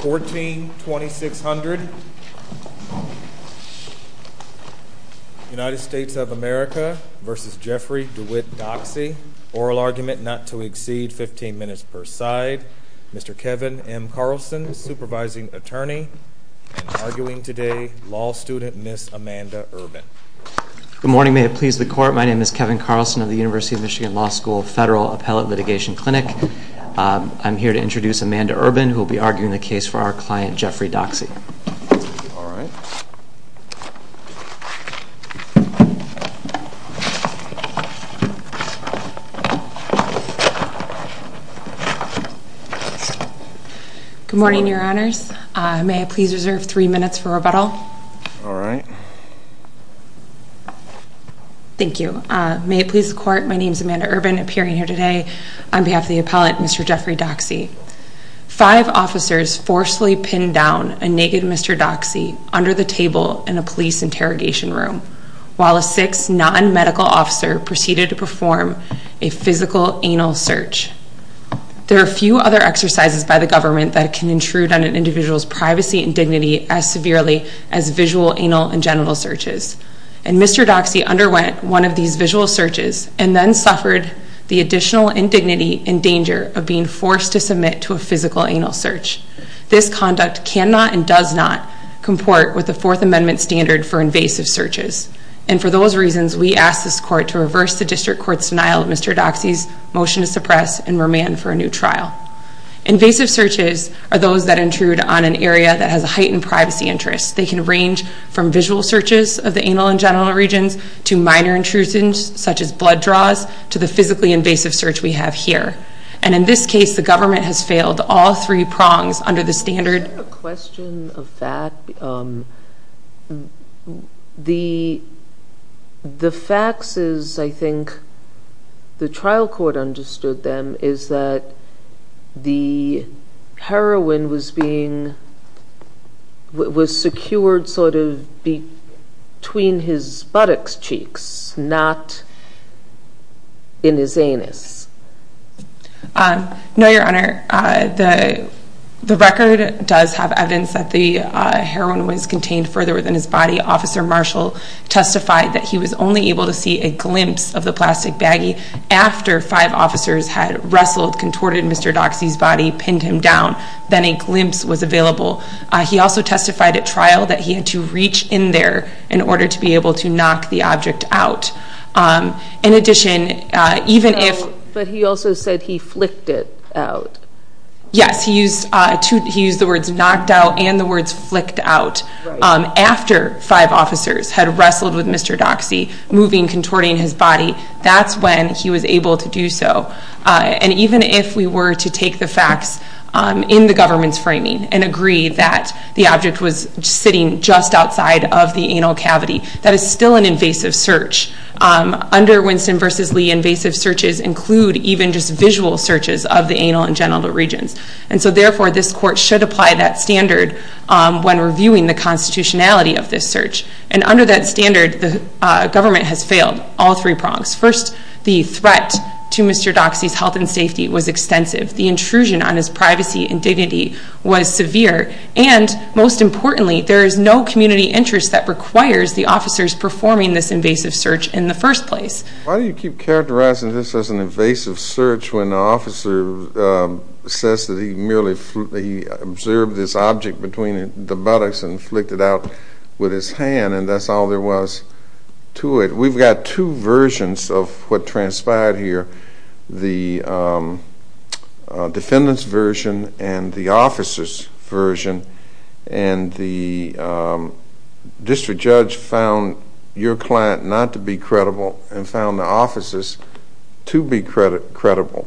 142600 United States of America v. Jeffrey DeWitt Doxey, oral argument not to exceed 15 minutes per side, Mr. Kevin M. Carlson, supervising attorney, and arguing today, law student, Ms. Amanda Urban. Good morning, may it please the court. My name is Kevin Carlson of the University of Michigan Law School Federal Appellate Litigation Clinic. I'm here to introduce Amanda Urban, who will be arguing the case for our client, Jeffrey Doxey. Good morning, your honors. May I please reserve three minutes for rebuttal? All right. Thank you. May it please the court, my name is Amanda Urban, appearing here today on behalf of the appellate, Mr. Jeffrey Doxey. Five officers forcefully pinned down a naked Mr. Doxey under the table in a police interrogation room, while a sixth non-medical officer proceeded to perform a physical anal search. There are few other exercises by the government that can intrude on an individual's privacy and dignity as severely as visual anal and genital searches. And Mr. Doxey underwent one of these visual searches and then suffered the additional indignity and danger of being forced to submit to a physical anal search. This conduct cannot and does not comport with the Fourth Amendment standard for invasive searches. And for those reasons, we ask this court to reverse the district court's denial of Mr. Doxey's motion to suppress and remand for a new trial. Invasive searches are those that intrude on an area that has a heightened privacy interest. They can range from visual searches of the anal and genital regions, to minor intrusions such as blood draws, to the physically invasive search we have here. And in this case, the government has failed all three prongs under the standard... I have a question of that. The facts is, I think, the trial court understood them, is that the heroin was being... was secured sort of between his buttocks cheeks, not in his anus. No, Your Honor. The record does have evidence that the heroin was contained further within his body. Officer Marshall testified that he was only able to see a glimpse of the plastic baggie after five officers had wrestled, contorted Mr. Doxey's body, pinned him down. Then a glimpse was available. He also testified at trial that he had to reach in there in order to be able to knock the object out. In addition, even if... But he also said he flicked it out. Yes, he used the words knocked out and the words flicked out. After five officers had wrestled with Mr. Doxey, moving, contorting his body, that's when he was able to do so. And even if we were to take the facts in the government's framing and agree that the object was sitting just outside of the anal cavity, that is still an invasive search. Under Winston v. Lee, invasive searches include even just visual searches of the anal and genital regions. And so therefore, this court should apply that standard when reviewing the constitutionality of this search. And under that standard, the government has failed all three prongs. First, the threat to Mr. Doxey's health and safety was extensive. The intrusion on his privacy and dignity was severe. And most importantly, there is no community interest that requires the officers performing this invasive search in the first place. Why do you keep characterizing this as an invasive search when the officer says that he merely observed this object between the buttocks and flicked it out with his hand and that's all there was to it? We've got two versions of what transpired here, the defendant's version and the officer's version. And the district judge found your client not to be credible and found the officer's to be credible.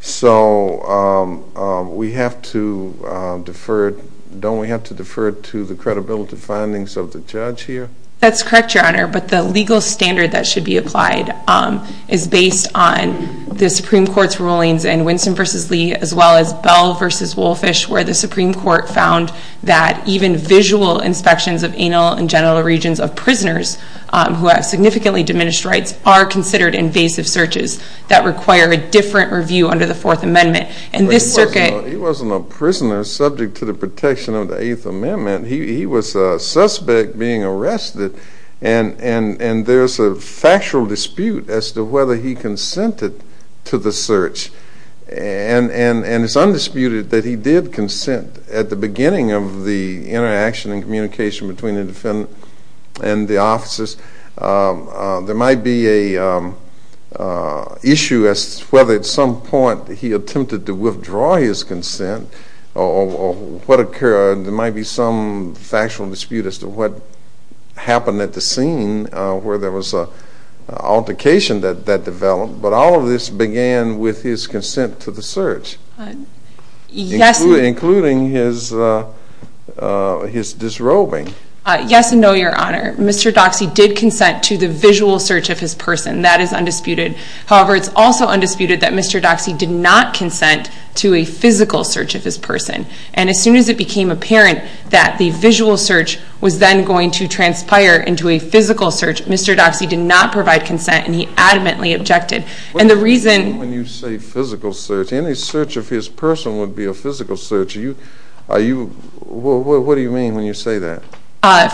So we have to defer it. Don't we have to defer it to the credibility findings of the judge here? That's correct, Your Honor. But the legal standard that should be applied is based on the Supreme Court's rulings in Winston v. Lee as well as Bell v. Wolffish where the Supreme Court found that even visual inspections of anal and genital regions of prisoners who have significantly diminished rights are considered invasive searches that require a different review under the Fourth Amendment. And this circuit... But he wasn't a prisoner subject to the protection of the Eighth Amendment. He was a suspect being arrested and there's a factual dispute as to whether he consented to the search. And it's undisputed that he did consent at the beginning of the interaction and communication between the defendant and the officers. There might be an issue as to whether at some point he attempted to withdraw his consent or what occurred. There might be some factual dispute as to what happened at the scene where there was an altercation that developed. But all of this began with his consent to the search, including his disrobing. Yes and no, Your Honor. Mr. Doxey did consent to the visual search of his person. That is undisputed. However, it's also undisputed that Mr. Doxey did not consent to a physical search of his person. And as soon as it became apparent that the visual search was then going to transpire into a physical search, Mr. Doxey did not provide consent and he adamantly objected. And the reason... What do you mean when you say physical search? Any search of his person would be a physical search. Are you... What do you mean when you say that?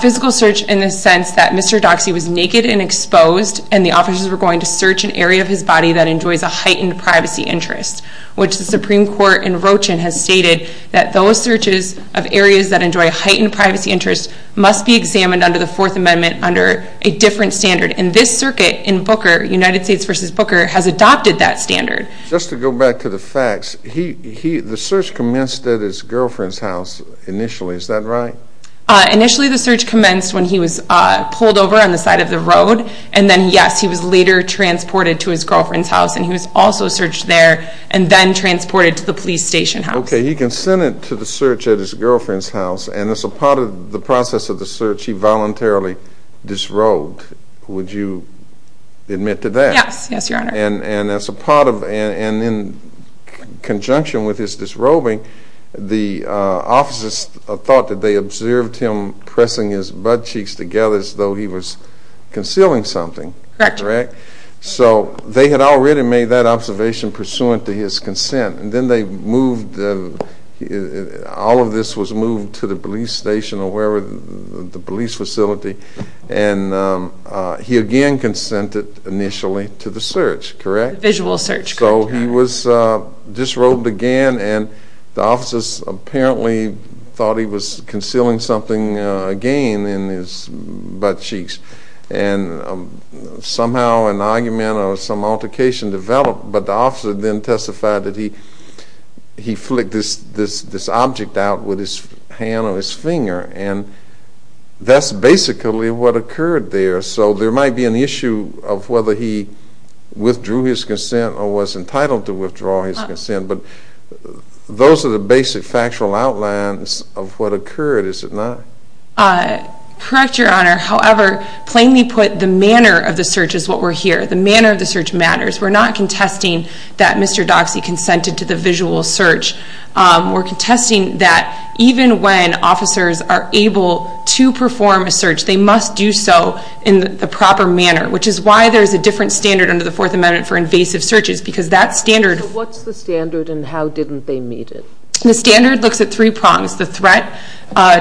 Physical search in the sense that Mr. Doxey was naked and exposed and the officers were going to search an area of his body that enjoys a heightened privacy interest, which the Supreme Court in Rochin has stated that those searches of areas that enjoy a heightened privacy interest must be examined under the Fourth Amendment under a different standard. And this circuit in Booker, United States v. Booker, has adopted that standard. Just to go back to the facts, the search commenced at his girlfriend's house initially. Is that right? Initially, the search commenced when he was pulled over on the side of the road. And then, yes, he was later transported to his girlfriend's house. And he was also searched there and then transported to the police station house. Okay, he consented to the search at his girlfriend's house. And as a part of the process of the search, he voluntarily disrobed. Would you admit to that? Yes. Yes, Your Honor. And as a part of and in conjunction with his disrobing, the officers thought that they observed him pressing his butt cheeks together as though he was concealing something. Correct. Correct? Correct. So they had already made that observation pursuant to his consent. And then they moved theóall of this was moved to the police station or wherever, the police facility. And he again consented initially to the search. Correct? Visual search. Correct, Your Honor. So he was disrobed again, and the officers apparently thought he was concealing something again in his butt cheeks. And somehow an argument or some altercation developed. But the officer then testified that he flicked this object out with his hand or his finger. And that's basically what occurred there. So there might be an issue of whether he withdrew his consent or was entitled to withdraw his consent. But those are the basic factual outlines of what occurred, is it not? Correct, Your Honor. However, plainly put, the manner of the search is what we're here. The manner of the search matters. We're not contesting that Mr. Doxey consented to the visual search. We're contesting that even when officers are able to perform a search, they must do so in the proper manner, which is why there's a different standard under the Fourth Amendment for invasive searches, because that standardó So what's the standard and how didn't they meet it? The standard looks at three prongsóthe threat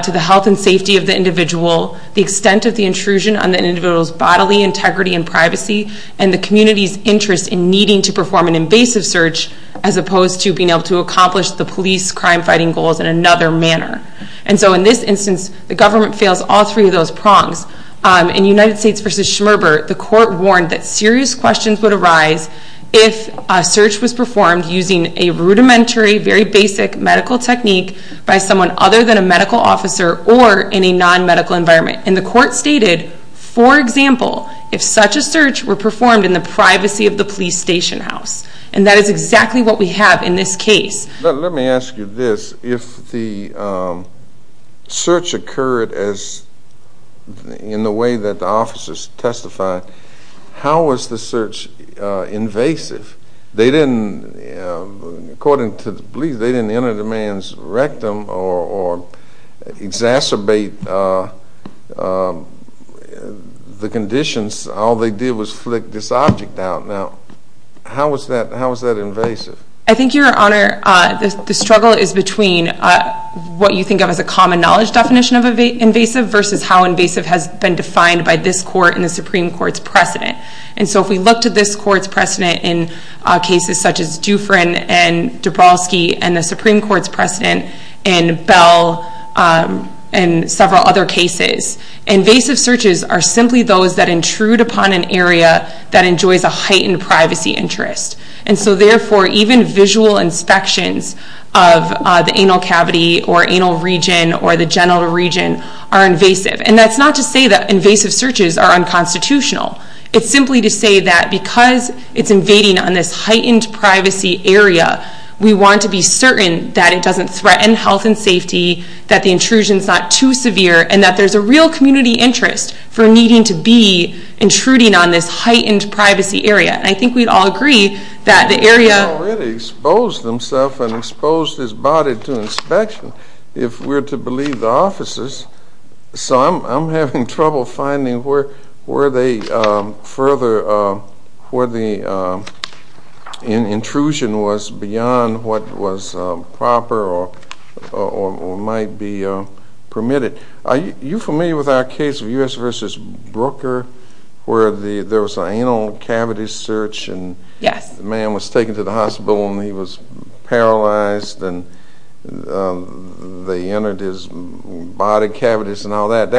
to the health and safety of the individual, the extent of the intrusion on the individual's bodily integrity and privacy, and the community's interest in needing to perform an invasive search, as opposed to being able to accomplish the police crime-fighting goals in another manner. And so in this instance, the government fails all three of those prongs. In United States v. Schmerber, the court warned that serious questions would arise if a search was performed using a rudimentary, very basic medical technique by someone other than a medical officer or in a non-medical environment. And the court stated, for example, if such a search were performed in the privacy of the police station house. And that is exactly what we have in this case. Let me ask you this. If the search occurred in the way that the officers testified, how was the search invasive? They didn'tóaccording to the police, they didn't enter the man's rectum or exacerbate the conditions. All they did was flick this object out. Now, how was that invasive? I think, Your Honor, the struggle is between what you think of as a common knowledge definition of invasive versus how invasive has been defined by this court and the Supreme Court's precedent. And so if we looked at this court's precedent in cases such as Dufrin and Dabrowski and the Supreme Court's precedent in Bell and several other cases, invasive searches are simply those that intrude upon an area that enjoys a heightened privacy interest. And so therefore, even visual inspections of the anal cavity or anal region or the genital region are invasive. And that's not to say that invasive searches are unconstitutional. It's simply to say that because it's invading on this heightened privacy area, we want to be certain that it doesn't threaten health and safety, that the intrusion's not too severe, and that there's a real community interest for needing to be intruding on this heightened privacy area. And I think we'd all agree that the areaó They already exposed themselves and exposed his body to inspection if we're to believe the officers. So I'm having trouble finding where they furtherówhere the intrusion was beyond what was proper or might be permitted. Are you familiar with our case of U.S. v. Brooker where there was an anal cavity searchó Yes. The man was taken to the hospital and he was paralyzed and they entered his body cavities and all that.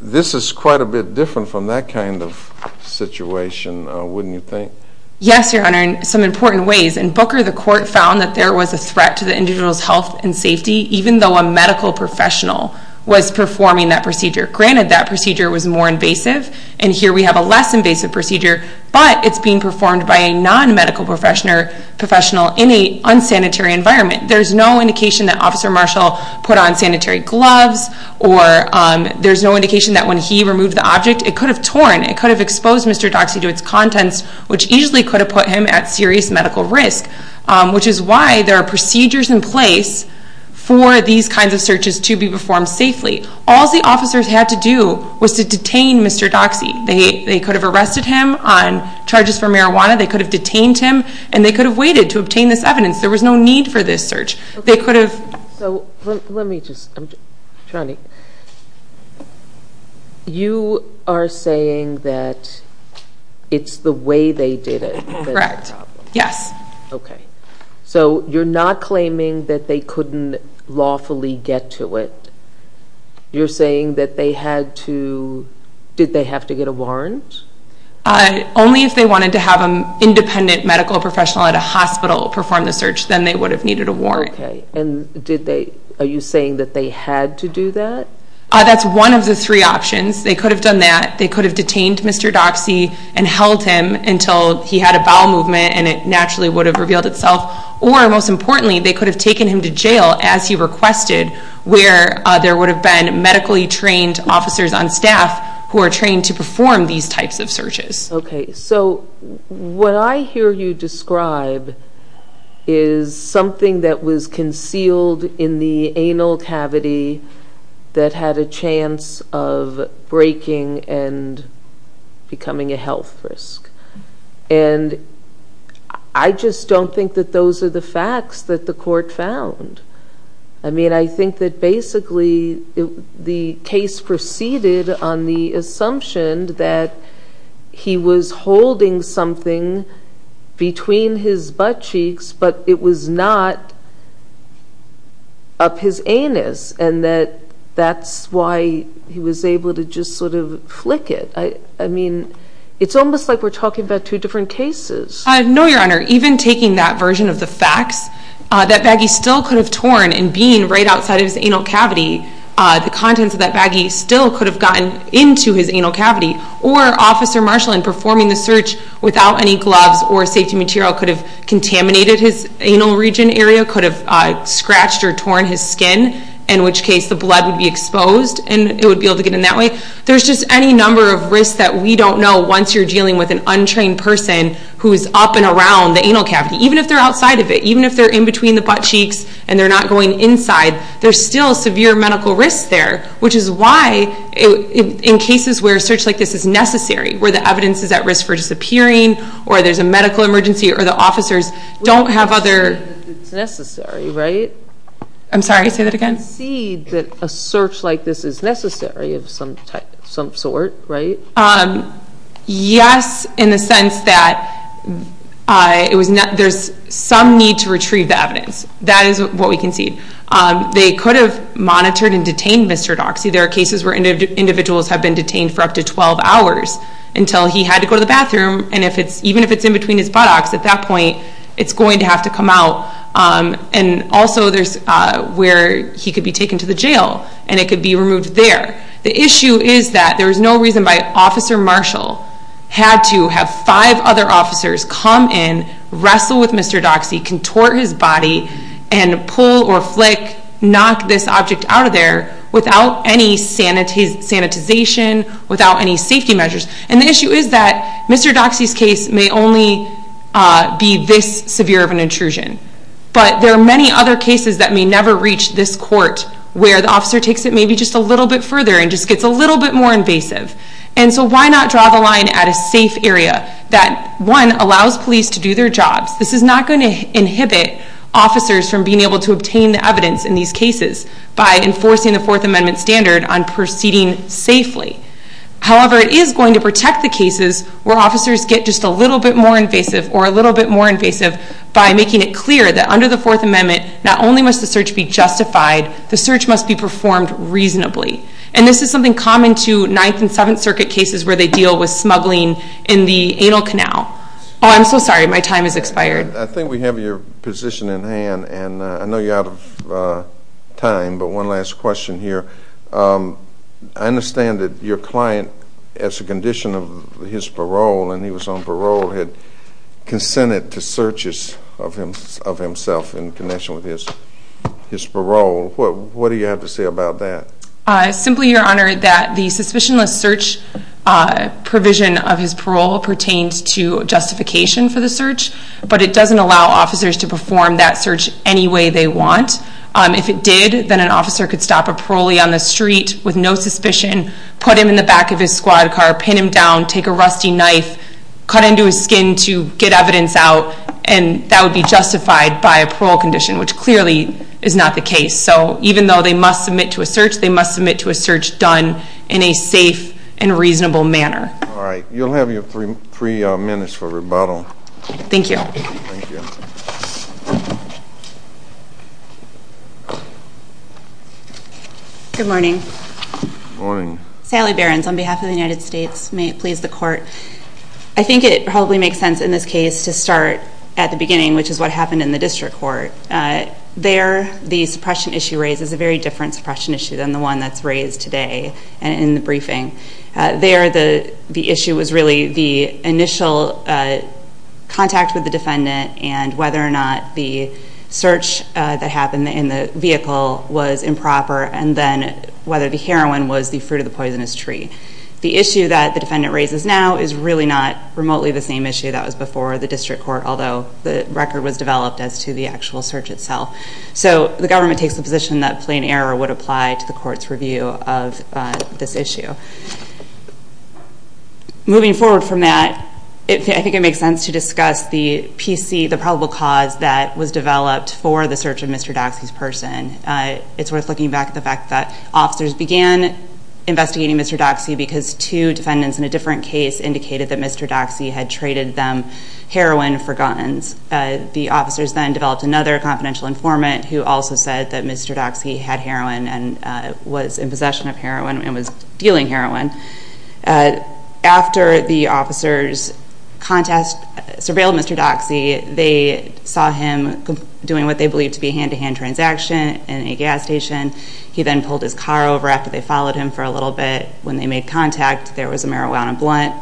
This is quite a bit different from that kind of situation, wouldn't you think? Yes, Your Honor, in some important ways. In Booker, the court found that there was a threat to the individual's health and safety even though a medical professional was performing that procedure. Granted, that procedure was more invasive, and here we have a less invasive procedure, but it's being performed by a non-medical professional in an unsanitary environment. There's no indication that Officer Marshall put on sanitary gloves, or there's no indication that when he removed the object, it could have torn. It could have exposed Mr. Doxey to its contents, which easily could have put him at serious medical risk, which is why there are procedures in place for these kinds of searches to be performed safely. All the officers had to do was to detain Mr. Doxey. They could have arrested him on charges for marijuana, they could have detained him, and they could have waited to obtain this evidence. There was no need for this search. They could have... So, let me just... Charney, you are saying that it's the way they did it that's the problem. Correct. Yes. Okay. So, you're not claiming that they couldn't lawfully get to it. You're saying that they had to... Did they have to get a warrant? Only if they wanted to have an independent medical professional at a hospital perform the search, then they would have needed a warrant. Okay. And did they... Are you saying that they had to do that? That's one of the three options. They could have done that. They could have detained Mr. Doxey and held him until he had a bowel movement and it naturally would have revealed itself. Or, most importantly, they could have taken him to jail as he requested where there would have been medically trained officers on staff who are trained to perform these types of searches. Okay. So, what I hear you describe is something that was concealed in the anal cavity that had a chance of breaking and becoming a health risk. And I just don't think that those are the facts that the court found. I mean, I think that basically the case proceeded on the assumption that he was holding something between his butt cheeks, but it was not up his anus and that that's why he was able to just sort of flick it. I mean, it's almost like we're talking about two different cases. No, Your Honor. Even taking that version of the facts, that baggie still could have torn and been right outside of his anal cavity, the contents of that baggie still could have gotten into his anal cavity. Or Officer Marshall, in performing the search without any gloves or safety material, could have contaminated his anal region area, could have scratched or torn his skin, in which case the blood would be exposed and it would be able to get in that way. There's just any number of risks that we don't know once you're dealing with an untrained person who is up and around the anal cavity. Even if they're outside of it, even if they're in between the butt cheeks and they're not going inside, there's still severe medical risk there, which is why in cases where a search like this is necessary, where the evidence is at risk for disappearing or there's a medical emergency or the officers don't have other... It's necessary, right? I'm sorry, say that again. We concede that a search like this is necessary of some sort, right? Yes, in the sense that there's some need to retrieve the evidence. That is what we concede. They could have monitored and detained Mr. Doxey. There are cases where individuals have been detained for up to 12 hours until he had to go to the bathroom, and even if it's in between his buttocks, at that point it's going to have to come out. Also, there's where he could be taken to the jail, and it could be removed there. The issue is that there was no reason why Officer Marshall had to have five other officers come in, wrestle with Mr. Doxey, contort his body, and pull or flick, knock this object out of there without any sanitization, without any safety measures. The issue is that Mr. Doxey's case may only be this severe of an intrusion, but there are many other cases that may never reach this court where the officer takes it maybe just a little bit further and just gets a little bit more invasive. Why not draw the line at a safe area that, one, allows police to do their jobs? This is not going to inhibit officers from being able to obtain the evidence in these cases by enforcing the Fourth Amendment standard on proceeding safely. However, it is going to protect the cases where officers get just a little bit more invasive or a little bit more invasive by making it clear that under the Fourth Amendment, not only must the search be justified, the search must be performed reasonably. And this is something common to Ninth and Seventh Circuit cases where they deal with smuggling in the anal canal. Oh, I'm so sorry, my time has expired. I think we have your position in hand, and I know you're out of time, but one last question here. I understand that your client, as a condition of his parole and he was on parole, had consented to searches of himself in connection with his parole. What do you have to say about that? Simply, Your Honor, that the suspicionless search provision of his parole pertains to justification for the search, but it doesn't allow officers to perform that search any way they want. If it did, then an officer could stop a parolee on the street with no suspicion, put him in the back of his squad car, pin him down, take a rusty knife, cut into his skin to get evidence out, and that would be justified by a parole condition, which clearly is not the case. So even though they must submit to a search, they must submit to a search done in a safe and reasonable manner. All right. You'll have your three minutes for rebuttal. Thank you. Good morning. Good morning. Sally Behrens on behalf of the United States. May it please the Court. I think it probably makes sense in this case to start at the beginning, which is what happened in the district court. There the suppression issue raised is a very different suppression issue than the one that's raised today in the briefing. There the issue was really the initial contact with the defendant and whether or not the search that happened in the vehicle was improper and then whether the heroin was the fruit of the poisonous tree. The issue that the defendant raises now is really not remotely the same issue that was before the district court, although the record was developed as to the actual search itself. So the government takes the position that plain error would apply to the court's review of this issue. Moving forward from that, I think it makes sense to discuss the PC, the probable cause that was developed for the search of Mr. Doxey's person. It's worth looking back at the fact that officers began investigating Mr. Doxey because two defendants in a different case indicated that Mr. Doxey had traded them heroin for guns. The officers then developed another confidential informant who also said that Mr. Doxey had heroin and was in possession of heroin and was dealing heroin. After the officers surveilled Mr. Doxey, they saw him doing what they believed to be a hand-to-hand transaction in a gas station. He then pulled his car over after they followed him for a little bit. When they made contact, there was a marijuana blunt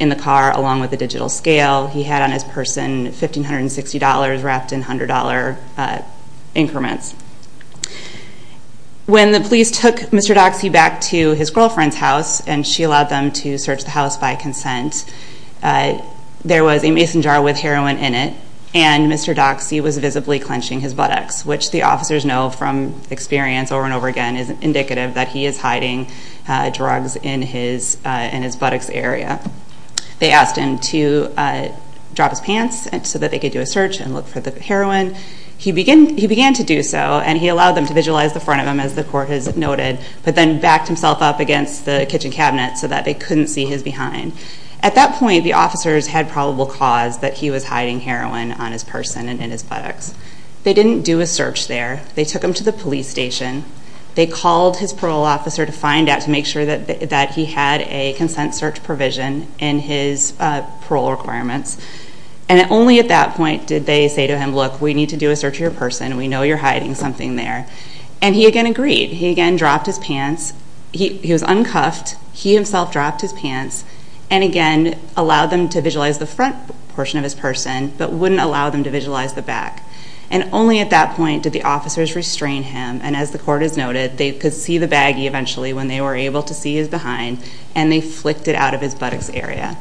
in the car along with a digital scale. He had on his person $1,560 wrapped in $100 increments. When the police took Mr. Doxey back to his girlfriend's house and she allowed them to search the house by consent, there was a mason jar with heroin in it, and Mr. Doxey was visibly clenching his buttocks, which the officers know from experience over and over again is indicative that he is hiding drugs in his buttocks area. They asked him to drop his pants so that they could do a search and look for the heroin. He began to do so, and he allowed them to visualize the front of him, as the court has noted, but then backed himself up against the kitchen cabinet so that they couldn't see his behind. At that point, the officers had probable cause that he was hiding heroin on his person and in his buttocks. They didn't do a search there. They took him to the police station. They called his parole officer to find out, to make sure that he had a consent search provision in his parole requirements. And only at that point did they say to him, look, we need to do a search of your person. We know you're hiding something there. And he again agreed. He again dropped his pants. He was uncuffed. He himself dropped his pants and again allowed them to visualize the front portion of his person but wouldn't allow them to visualize the back. And only at that point did the officers restrain him, and as the court has noted, they could see the baggie eventually when they were able to see his behind, and they flicked it out of his buttocks area.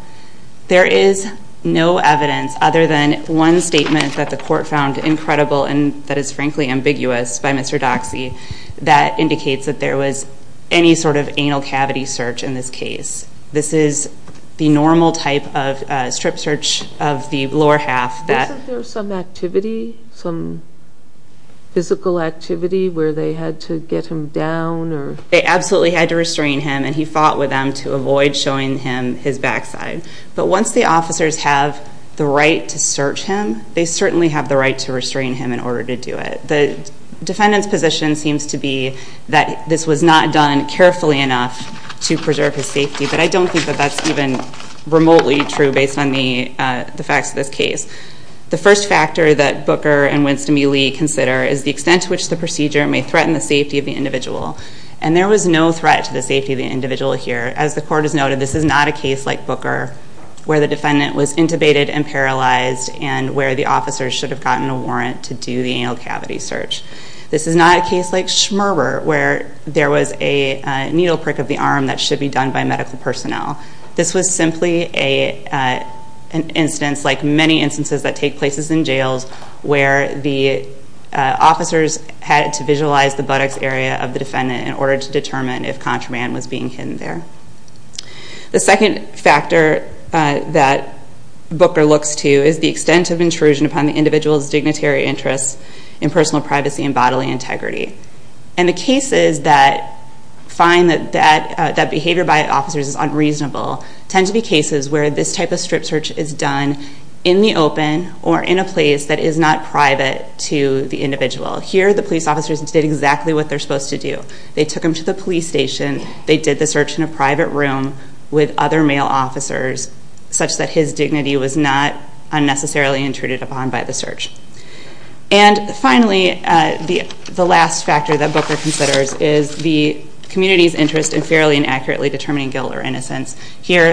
There is no evidence other than one statement that the court found incredible and that is frankly ambiguous by Mr. Doxey that indicates that there was any sort of anal cavity search in this case. This is the normal type of strip search of the lower half. Wasn't there some activity, some physical activity, where they had to get him down? They absolutely had to restrain him, and he fought with them to avoid showing him his backside. But once the officers have the right to search him, they certainly have the right to restrain him in order to do it. The defendant's position seems to be that this was not done carefully enough to preserve his safety, but I don't think that that's even remotely true based on the facts of this case. The first factor that Booker and Winston B. Lee consider is the extent to which the procedure may threaten the safety of the individual, and there was no threat to the safety of the individual here. As the court has noted, this is not a case like Booker where the defendant was intubated and paralyzed and where the officers should have gotten a warrant to do the anal cavity search. This is not a case like Schmerber where there was a needle prick of the arm that should be done by medical personnel. This was simply an instance like many instances that take place in jails where the officers had to visualize the buttocks area of the defendant in order to determine if contraband was being hidden there. The second factor that Booker looks to is the extent of intrusion upon the individual's dignitary interests in personal privacy and bodily integrity. And the cases that find that behavior by officers is unreasonable tend to be cases where this type of strip search is done in the open or in a place that is not private to the individual. Here the police officers did exactly what they're supposed to do. They took him to the police station. They did the search in a private room with other male officers such that his dignity was not unnecessarily intruded upon by the search. And finally, the last factor that Booker considers Here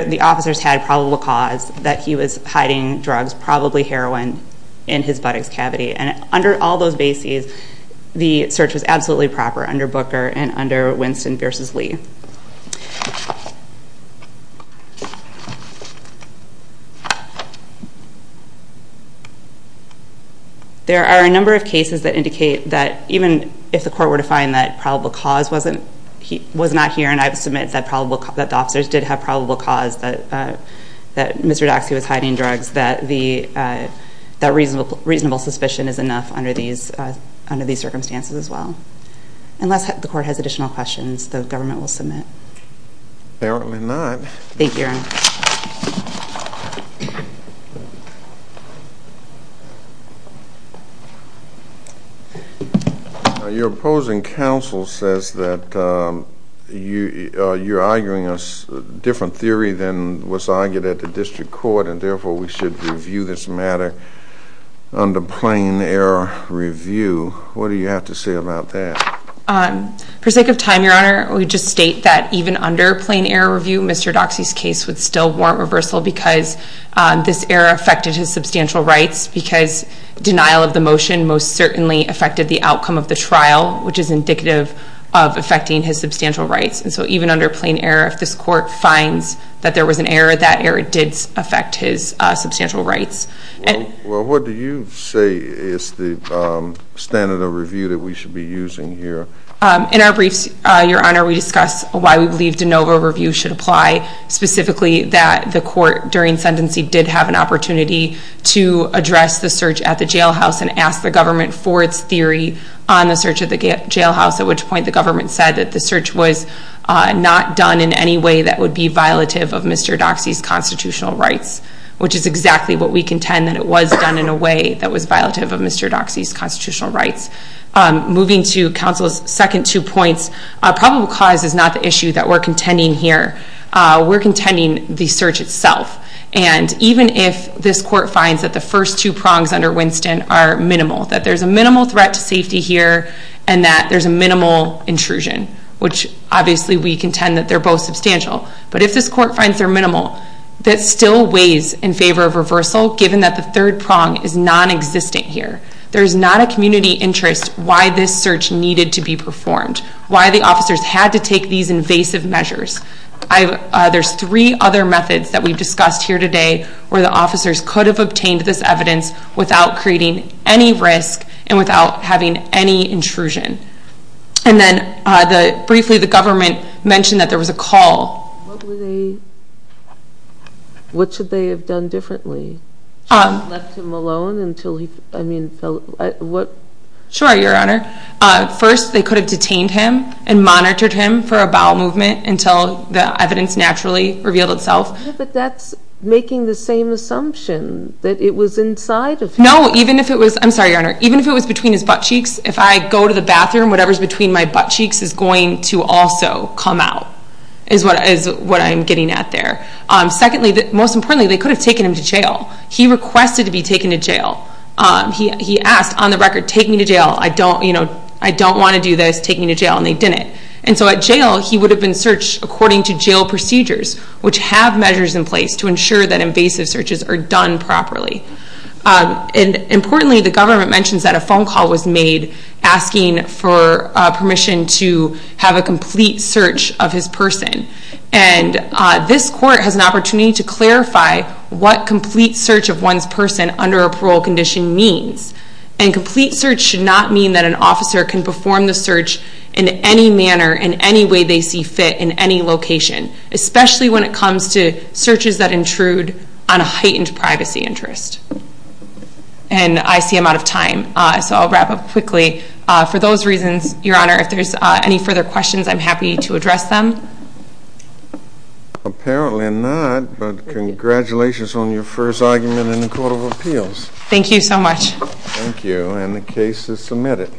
the officers had probable cause that he was hiding drugs, probably heroin, in his buttocks cavity. And under all those bases, the search was absolutely proper under Booker and under Winston v. Lee. There are a number of cases that indicate that even if the court were to find that probable cause was not here and I submit that the officers did have probable cause that Mr. Doxey was hiding drugs, that reasonable suspicion is enough under these circumstances as well. Unless the court has additional questions, the government will submit. Apparently not. Thank you, Your Honor. Thank you. Your opposing counsel says that you're arguing a different theory than was argued at the district court and therefore we should review this matter under plain error review. What do you have to say about that? For the sake of time, Your Honor, we just state that even under plain error review, Mr. Doxey's case would still warrant reversal because this error affected his substantial rights because denial of the motion most certainly affected the outcome of the trial, which is indicative of affecting his substantial rights. And so even under plain error, if this court finds that there was an error, that error did affect his substantial rights. Well, what do you say is the standard of review that we should be using here? In our briefs, Your Honor, we discuss why we believe de novo review should apply specifically that the court during sentencing did have an opportunity to address the search at the jailhouse and ask the government for its theory on the search at the jailhouse, at which point the government said that the search was not done in any way that would be violative of Mr. Doxey's constitutional rights, which is exactly what we contend that it was done in a way that was violative of Mr. Doxey's constitutional rights. Moving to counsel's second two points, probable cause is not the issue that we're contending here. We're contending the search itself. And even if this court finds that the first two prongs under Winston are minimal, that there's a minimal threat to safety here and that there's a minimal intrusion, which obviously we contend that they're both substantial, but if this court finds they're minimal, that still weighs in favor of reversal given that the third prong is nonexistent here. There's not a community interest why this search needed to be performed, why the officers had to take these invasive measures. There's three other methods that we've discussed here today where the officers could have obtained this evidence without creating any risk and without having any intrusion. And then briefly, the government mentioned that there was a call. What should they have done differently? Should they have left him alone? Sure, Your Honor. First, they could have detained him and monitored him for a bowel movement until the evidence naturally revealed itself. But that's making the same assumption that it was inside of him. No, even if it was... I'm sorry, Your Honor. Even if it was between his buttcheeks, if I go to the bathroom, whatever's between my buttcheeks is going to also come out is what I'm getting at there. Secondly, most importantly, they could have taken him to jail. He requested to be taken to jail. He asked on the record, take me to jail, I don't want to do this, take me to jail, and they didn't. And so at jail, he would have been searched according to jail procedures, which have measures in place to ensure that invasive searches are done properly. Importantly, the government mentions that a phone call was made asking for permission to have a complete search of his person. And this court has an opportunity to clarify what complete search of one's person under a parole condition means. And complete search should not mean that an officer can perform the search in any manner, in any way they see fit, in any location, especially when it comes to searches that intrude on a heightened privacy interest. And I see I'm out of time, so I'll wrap up quickly. For those reasons, Your Honor, if there's any further questions, I'm happy to address them. Apparently not, but congratulations on your first argument in the Court of Appeals. Thank you so much. Thank you, and the case is submitted.